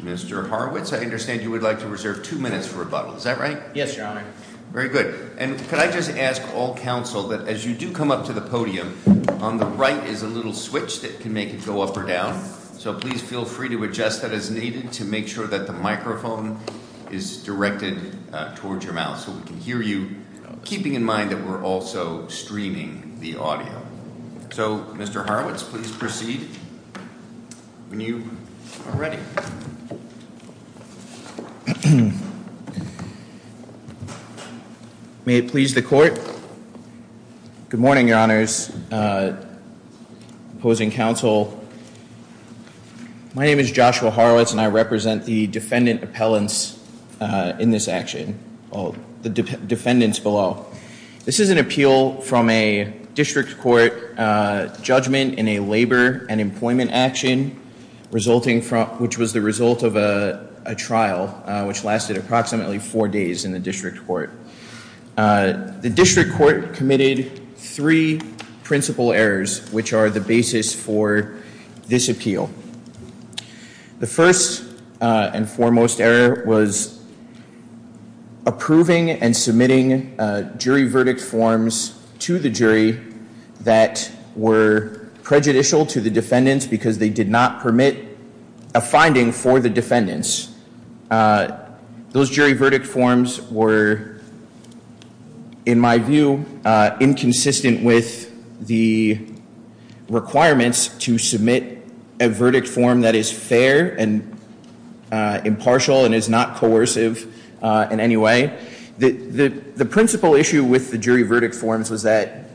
Mr. Horwitz, I understand you would like to reserve two minutes for rebuttal, is that right? Yes, Your Honor. Very good. And could I just ask all counsel that as you do come up to the podium, on the right is a little switch that can make it go up or down. So please feel free to adjust that as needed to make sure that the microphone is directed towards your mouth so we can hear you, keeping in mind that we're also streaming the audio. So, Mr. Horwitz, please proceed when you are ready. May it please the court. Good morning, Your Honors. Opposing counsel. My name is Joshua Horwitz and I represent the defendant appellants in this action, the defendants below. This is an appeal from a district court judgment in a labor and employment action resulting from, which was the result of a trial, which lasted approximately four days in the district court. The district court committed three principal errors, which are the basis for this appeal. The first and foremost error was approving and submitting jury verdict forms to the jury that were prejudicial to the defendants because they did not permit a finding for the defendants. Those jury verdict forms were, in my view, inconsistent with the requirements to submit a verdict form that is fair and impartial and is not coercive in any way. The principal issue with the jury verdict forms was that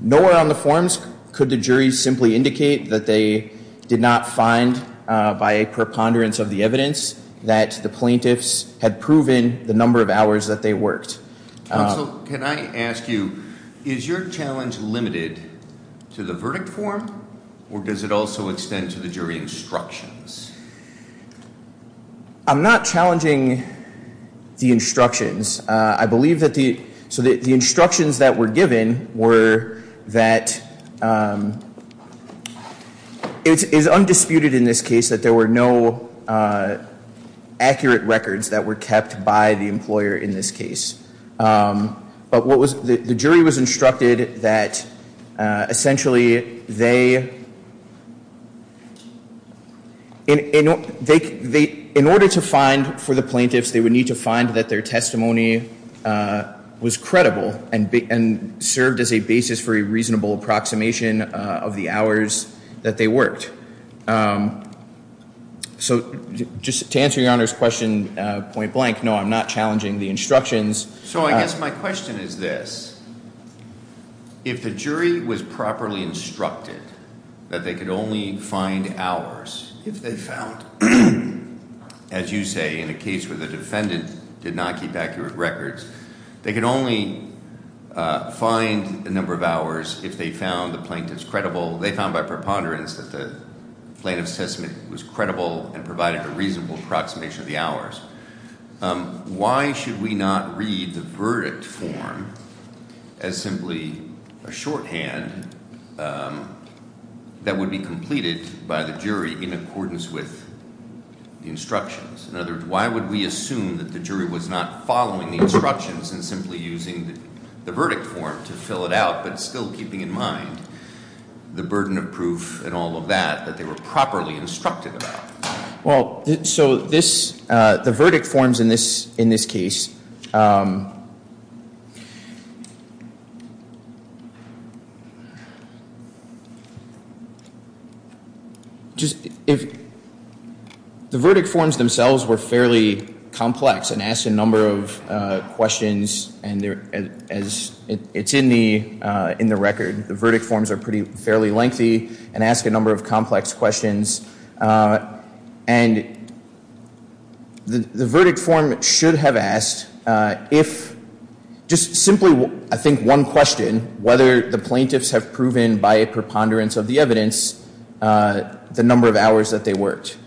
nowhere on the forms could the jury simply indicate that they did not find, by a preponderance of the evidence, that the plaintiffs had proven the number of hours that they worked. Counsel, can I ask you, is your challenge limited to the verdict form or does it also extend to the jury instructions? I'm not challenging the instructions. I believe that the instructions that were given were that it is undisputed in this case that there were no accurate records that were kept by the employer in this case. The jury was instructed that, essentially, in order to find for the plaintiffs, they would need to find that their testimony was credible and served as a basis for a reasonable approximation of the hours that they worked. So just to answer Your Honor's question, point blank, no, I'm not challenging the instructions. So I guess my question is this. If the jury was properly instructed that they could only find hours if they found, as you say, in a case where the defendant did not keep accurate records, they could only find the number of hours if they found the plaintiff's credible. They found by preponderance that the plaintiff's testimony was credible and provided a reasonable approximation of the hours. Why should we not read the verdict form as simply a shorthand that would be completed by the jury in accordance with the instructions? In other words, why would we assume that the jury was not following the instructions and simply using the verdict form to fill it out, but still keeping in mind the burden of proof and all of that, that they were properly instructed about? Well, so this, the verdict forms in this case, if the verdict forms themselves were fairly complex and asked a number of questions, as it's in the record, the verdict forms are fairly lengthy and ask a number of complex questions. And the verdict form should have asked if, just simply I think one question, whether the plaintiffs have proven by a preponderance of the evidence the number of hours that they worked.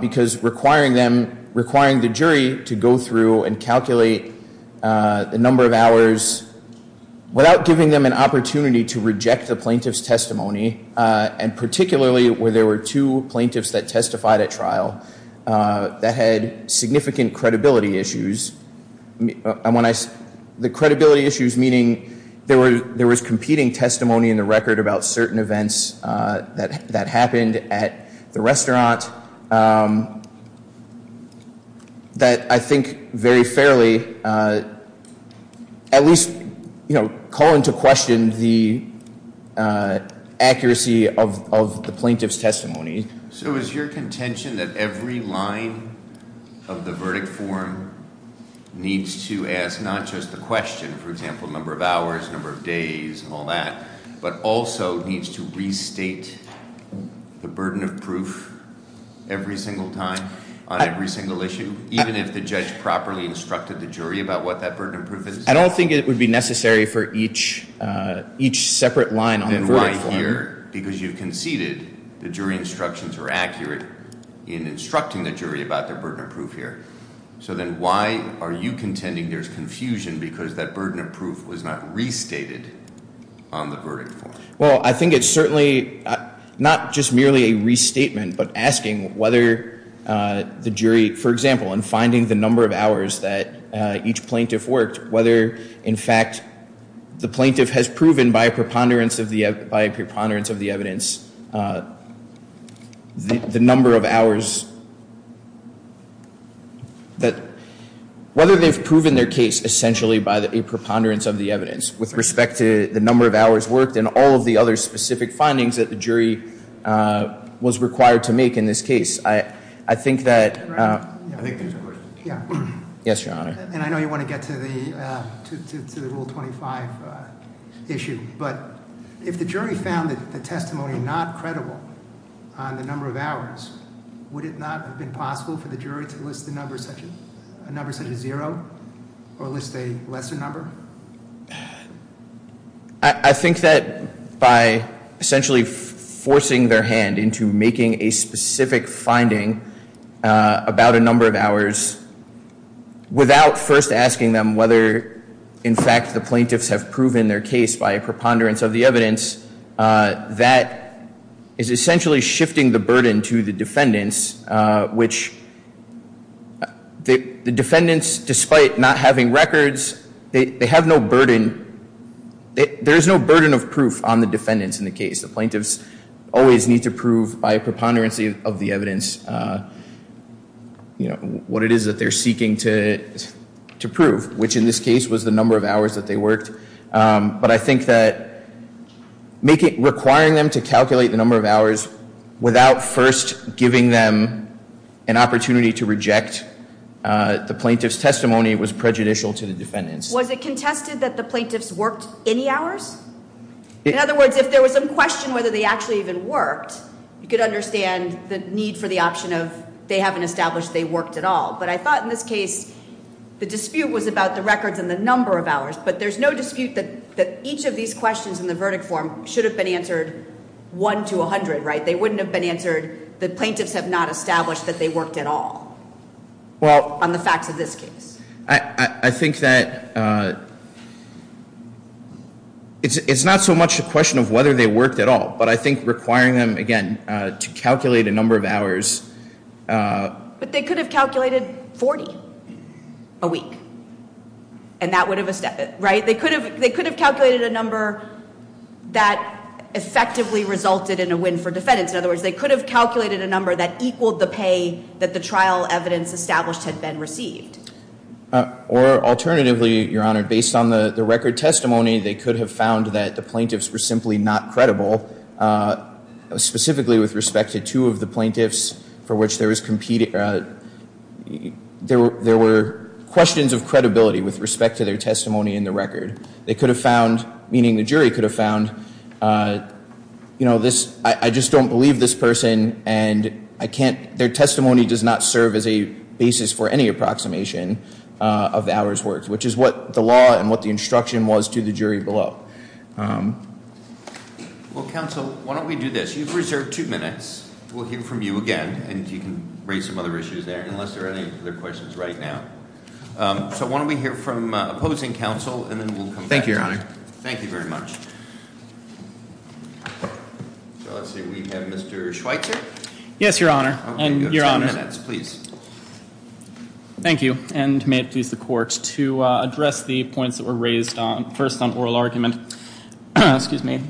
Because requiring them, requiring the jury to go through and calculate the number of hours without giving them an opportunity to reject the plaintiff's testimony, and particularly where there were two plaintiffs that testified at trial that had significant credibility issues. And when I, the credibility issues meaning there was competing testimony in the record about certain events that happened at the restaurant that I think very fairly, at least call into question the accuracy of the plaintiff's testimony. So is your contention that every line of the verdict form needs to ask not just the question, for example, number of hours, number of days, and all that, but also needs to restate the burden of proof every single time on every single issue? Even if the judge properly instructed the jury about what that burden of proof is? I don't think it would be necessary for each separate line on the verdict form. Why here? Because you've conceded the jury instructions are accurate in instructing the jury about their burden of proof here. So then why are you contending there's confusion because that burden of proof was not restated on the verdict form? Well, I think it's certainly not just merely a restatement, but asking whether the jury, for example, in finding the number of hours that each plaintiff worked, whether, in fact, the plaintiff has proven by a preponderance of the evidence the number of hours, whether they've proven their case essentially by a preponderance of the evidence with respect to the number of hours worked and all of the other specific findings that the jury was required to make in this case. I think that... Yes, Your Honor. And I know you want to get to the Rule 25 issue. But if the jury found the testimony not credible on the number of hours, would it not have been possible for the jury to list a number such as zero or list a lesser number? I think that by essentially forcing their hand into making a specific finding about a number of hours without first asking them whether, in fact, the plaintiffs have proven their case by a preponderance of the evidence, that is essentially shifting the burden to the defendants, which the defendants, despite not having records, they have no burden. There is no burden of proof on the defendants in the case. The plaintiffs always need to prove by a preponderance of the evidence what it is that they're seeking to prove, which in this case was the number of hours that they worked. But I think that requiring them to calculate the number of hours without first giving them an opportunity to reject the plaintiff's testimony was prejudicial to the defendants. Was it contested that the plaintiffs worked any hours? In other words, if there was a question whether they actually even worked, you could understand the need for the option of they haven't established they worked at all. But I thought in this case the dispute was about the records and the number of hours. But there's no dispute that each of these questions in the verdict form should have been answered 1 to 100, right? They wouldn't have been answered that plaintiffs have not established that they worked at all on the facts of this case. I think that it's not so much a question of whether they worked at all, but I think requiring them, again, to calculate a number of hours. But they could have calculated 40 a week. They could have calculated a number that effectively resulted in a win for defendants. In other words, they could have calculated a number that equaled the pay that the trial evidence established had been received. Or alternatively, Your Honor, based on the record testimony, they could have found that the plaintiffs were simply not credible, specifically with respect to two of the plaintiffs for which there was competing. There were questions of credibility with respect to their testimony in the record. They could have found, meaning the jury could have found, you know, this, I just don't believe this person and I can't, their testimony does not serve as a basis for any approximation of hours worked, which is what the law and what the instruction was to the jury below. Well, counsel, why don't we do this? You've reserved two minutes. We'll hear from you again. And you can raise some other issues there unless there are any other questions right now. So why don't we hear from opposing counsel and then we'll come back to you. Thank you, Your Honor. Thank you very much. So let's see, we have Mr. Schweitzer. Yes, Your Honor. You have ten minutes, please. Thank you. And may it please the Court to address the points that were raised first on oral argument. Excuse me.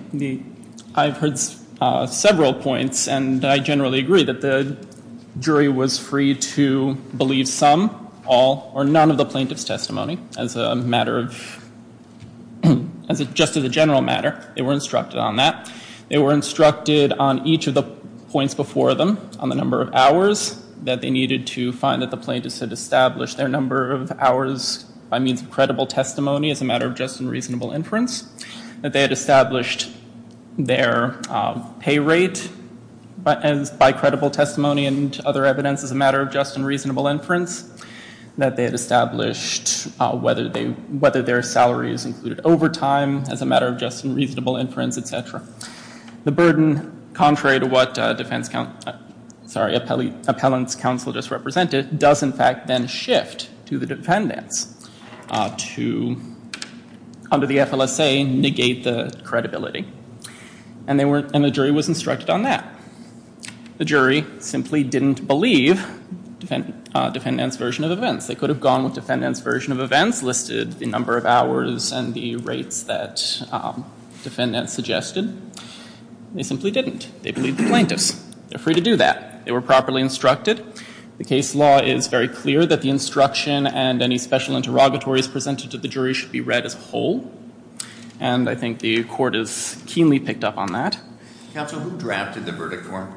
I've heard several points and I generally agree that the jury was free to believe some, all, or none of the plaintiff's testimony as a matter of, just as a general matter. They were instructed on that. They were instructed on each of the points before them on the number of hours that they needed to find that the plaintiff had established their number of hours by means of credible testimony as a matter of just and reasonable inference, that they had established their pay rate by credible testimony and other evidence as a matter of just and reasonable inference, that they had established whether their salary is included over time as a matter of just and reasonable inference, etc. The burden, contrary to what defense counsel, sorry, appellant's counsel just represented, does in fact then shift to the defendants to, under the FLSA, negate the credibility. And they weren't, and the jury was instructed on that. The jury simply didn't believe defendants' version of events. They could have gone with defendants' version of events, listed the number of hours and the rates that defendants suggested. They simply didn't. They believed the plaintiffs. They're free to do that. They were properly instructed. The case law is very clear that the instruction and any special interrogatories presented to the jury should be read as a whole. And I think the court has keenly picked up on that. Counsel, who drafted the verdict form?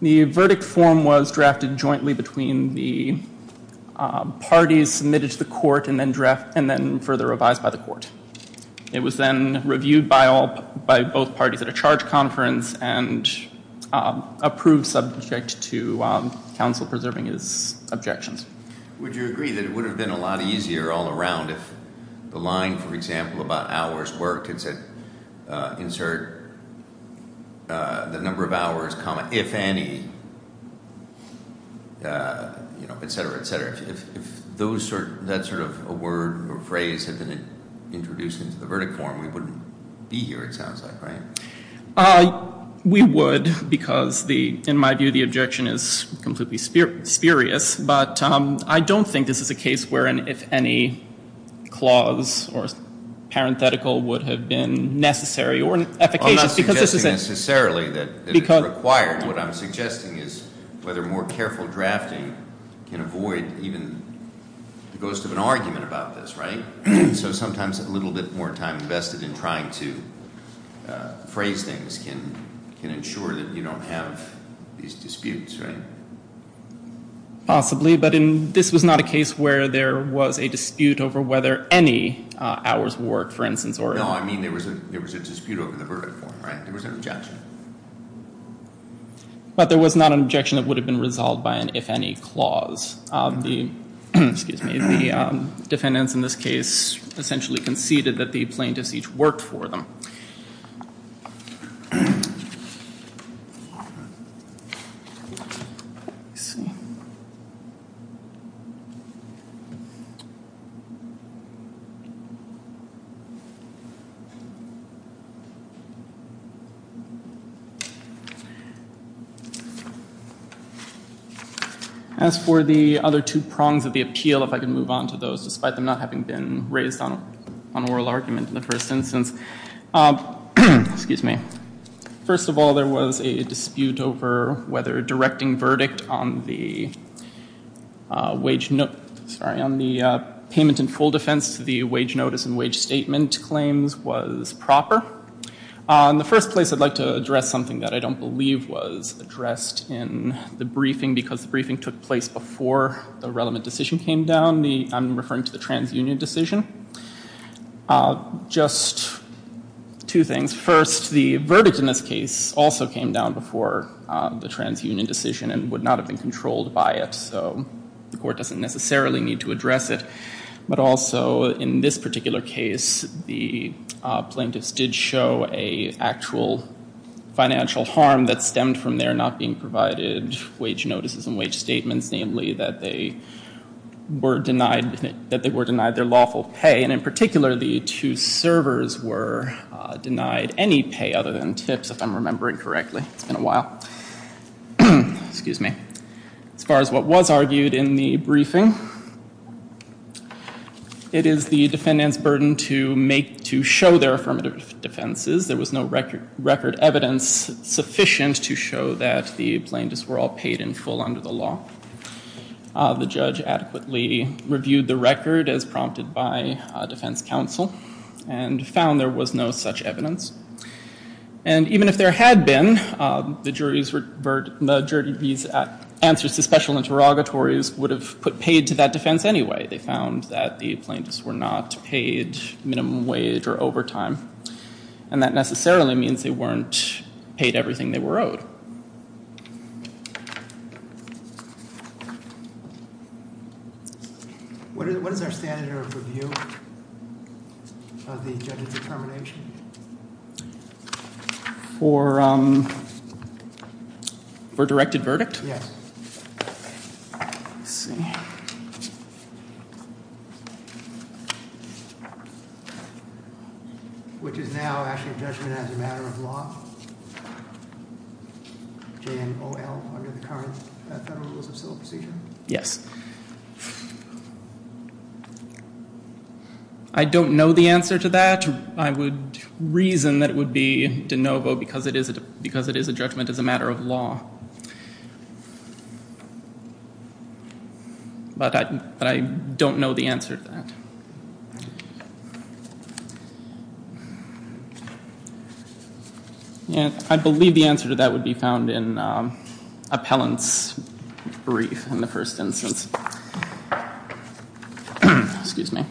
The verdict form was drafted jointly between the parties submitted to the court and then further revised by the court. It was then reviewed by both parties at a charge conference and approved subject to counsel preserving his objections. Would you agree that it would have been a lot easier all around if the line, for example, about hours worked and said, insert the number of hours, comma, if any, et cetera, et cetera. If that sort of a word or phrase had been introduced into the verdict form, we wouldn't be here, it sounds like, right? We would because, in my view, the objection is completely spurious. But I don't think this is a case wherein if any clause or parenthetical would have been necessary or efficacious. I'm not suggesting necessarily that it's required. What I'm suggesting is whether more careful drafting can avoid even the ghost of an argument about this, right? So sometimes a little bit more time invested in trying to phrase things can ensure that you don't have these disputes, right? Possibly, but this was not a case where there was a dispute over whether any hours worked, for instance. No, I mean there was a dispute over the verdict form, right? There was an objection. But there was not an objection that would have been resolved by an if any clause. The defendants in this case essentially conceded that the plaintiffs each worked for them. As for the other two prongs of the appeal, if I can move on to those, despite them not having been raised on oral argument in the first instance. Excuse me. First of all, there was a dispute over whether directing verdict on the payment in full defense to the wage notice and wage statement claims was proper. In the first place, I'd like to address something that I don't believe was addressed in the briefing, because the briefing took place before the relevant decision came down. I'm referring to the transunion decision. Just two things. First, the verdict in this case also came down before the transunion decision and would not have been controlled by it. So the court doesn't necessarily need to address it. But also, in this particular case, the plaintiffs did show an actual financial harm that stemmed from their not being provided wage notices and wage statements, namely that they were denied their lawful pay. And in particular, the two servers were denied any pay other than tips, if I'm remembering correctly. It's been a while. Excuse me. As far as what was argued in the briefing, it is the defendant's burden to show their affirmative defenses. There was no record evidence sufficient to show that the plaintiffs were all paid in full under the law. The judge adequately reviewed the record as prompted by defense counsel and found there was no such evidence. And even if there had been, the jury's answers to special interrogatories would have put paid to that defense anyway. They found that the plaintiffs were not paid minimum wage or overtime. And that necessarily means they weren't paid everything they were owed. What is our standard of review of the judge's determination? For directed verdict? Yes. Let's see. Which is now actually a judgment as a matter of law? J-N-O-L under the current federal rules of civil procedure? Yes. I don't know the answer to that. I would reason that it would be de novo because it is a judgment as a matter of law. But I don't know the answer to that. I believe the answer to that would be found in appellant's brief in the first instance. Excuse me.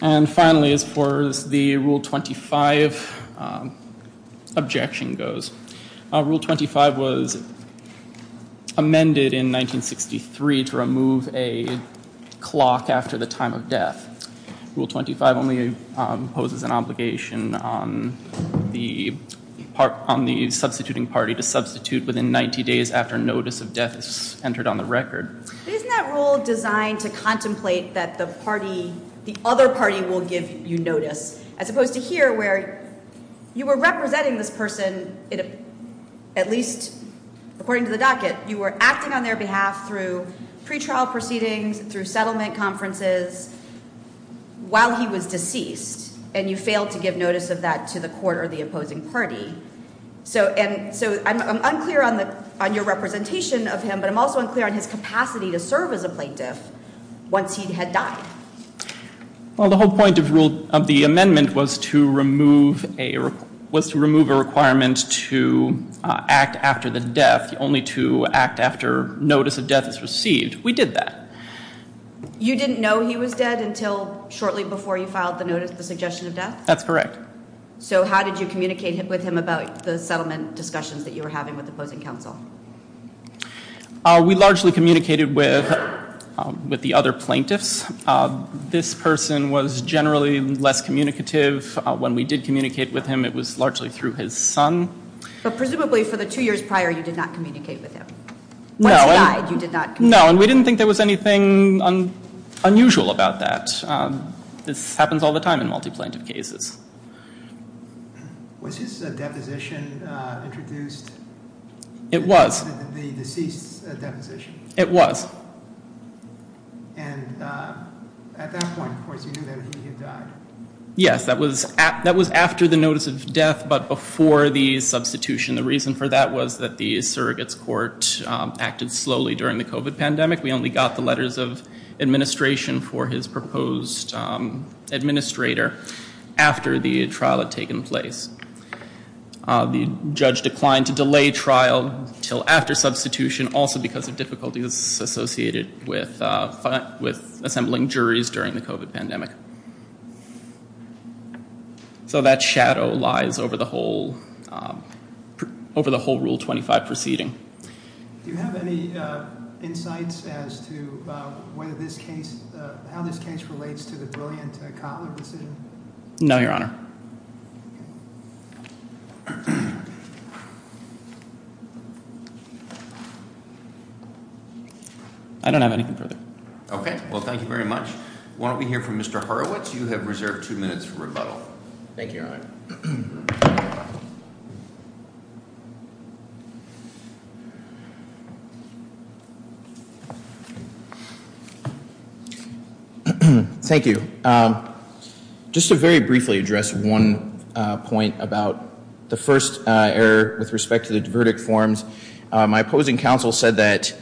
And finally, as far as the Rule 25 objection goes, Rule 25 was amended in 1963 to remove a clock after the time of death. Rule 25 only imposes an obligation on the substituting party to substitute within 90 days after notice of death is entered on the record. Isn't that rule designed to contemplate that the party, the other party will give you notice? As opposed to here where you were representing this person, at least according to the docket, you were acting on their behalf through pretrial proceedings, through settlement conferences while he was deceased, and you failed to give notice of that to the court or the opposing party. So I'm unclear on your representation of him, but I'm also unclear on his capacity to serve as a plaintiff once he had died. Well, the whole point of the amendment was to remove a requirement to act after the death, only to act after notice of death is received. We did that. You didn't know he was dead until shortly before you filed the suggestion of death? That's correct. So how did you communicate with him about the settlement discussions that you were having with opposing counsel? We largely communicated with the other plaintiffs. This person was generally less communicative. When we did communicate with him, it was largely through his son. But presumably for the two years prior, you did not communicate with him? No. Once he died, you did not communicate? No, and we didn't think there was anything unusual about that. This happens all the time in multi-plaintiff cases. Was his deposition introduced? It was. The deceased's deposition? It was. And at that point, of course, you knew that he had died? Yes, that was after the notice of death, but before the substitution. The reason for that was that the surrogates court acted slowly during the COVID pandemic. We only got the letters of administration for his proposed administrator after the trial had taken place. The judge declined to delay trial until after substitution, also because of difficulties associated with assembling juries during the COVID pandemic. So that shadow lies over the whole Rule 25 proceeding. Do you have any insights as to how this case relates to the brilliant Kotler decision? No, Your Honor. I don't have anything further. Okay. Well, thank you very much. Why don't we hear from Mr. Horowitz? You have reserved two minutes for rebuttal. Thank you, Your Honor. Thank you. Just to very briefly address one point about the first error with respect to the verdict forms. My opposing counsel said that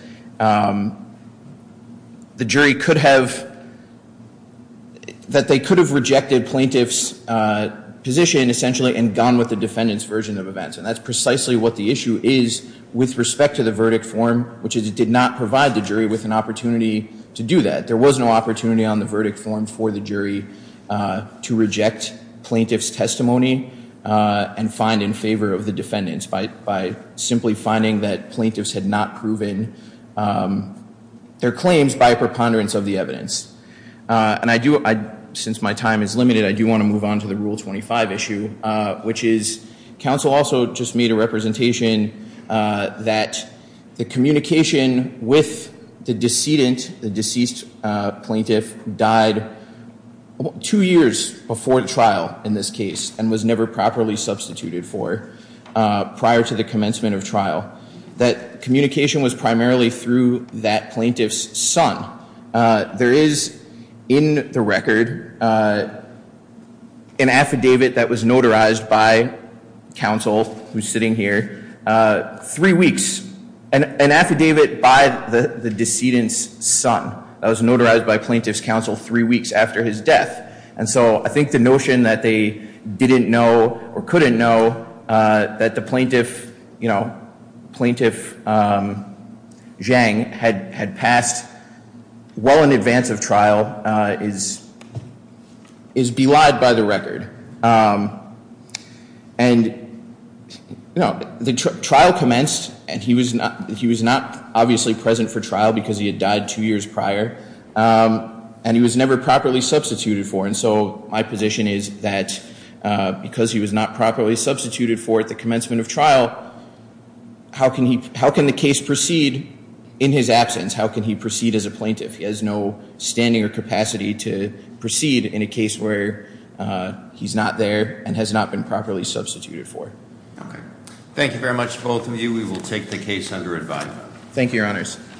the jury could have, that they could have rejected plaintiff's position, essentially, and gone with the defendant's version of events. And that's precisely what the issue is with respect to the verdict form, which is it did not provide the jury with an opportunity to do that. There was no opportunity on the verdict form for the jury to reject plaintiff's testimony and find in favor of the defendants by simply finding that plaintiffs had not proven their claims by a preponderance of the evidence. And I do, since my time is limited, I do want to move on to the Rule 25 issue, which is counsel also just made a representation that the communication with the decedent, the deceased plaintiff, died two years before the trial in this case and was never properly substituted for prior to the commencement of trial. That communication was primarily through that plaintiff's son. There is, in the record, an affidavit that was notarized by counsel, who's sitting here, three weeks. An affidavit by the decedent's son that was notarized by plaintiff's counsel three weeks after his death. And so I think the notion that they didn't know or couldn't know that the plaintiff, you know, plaintiff Zhang had passed well in advance of trial is belied by the record. And, you know, the trial commenced, and he was not obviously present for trial because he had died two years prior, and he was never properly substituted for. And so my position is that because he was not properly substituted for at the commencement of trial, how can the case proceed in his absence? How can he proceed as a plaintiff? He has no standing or capacity to proceed in a case where he's not there and has not been properly substituted for. Okay. Thank you very much, both of you. We will take the case under advise. Thank you, Your Honors.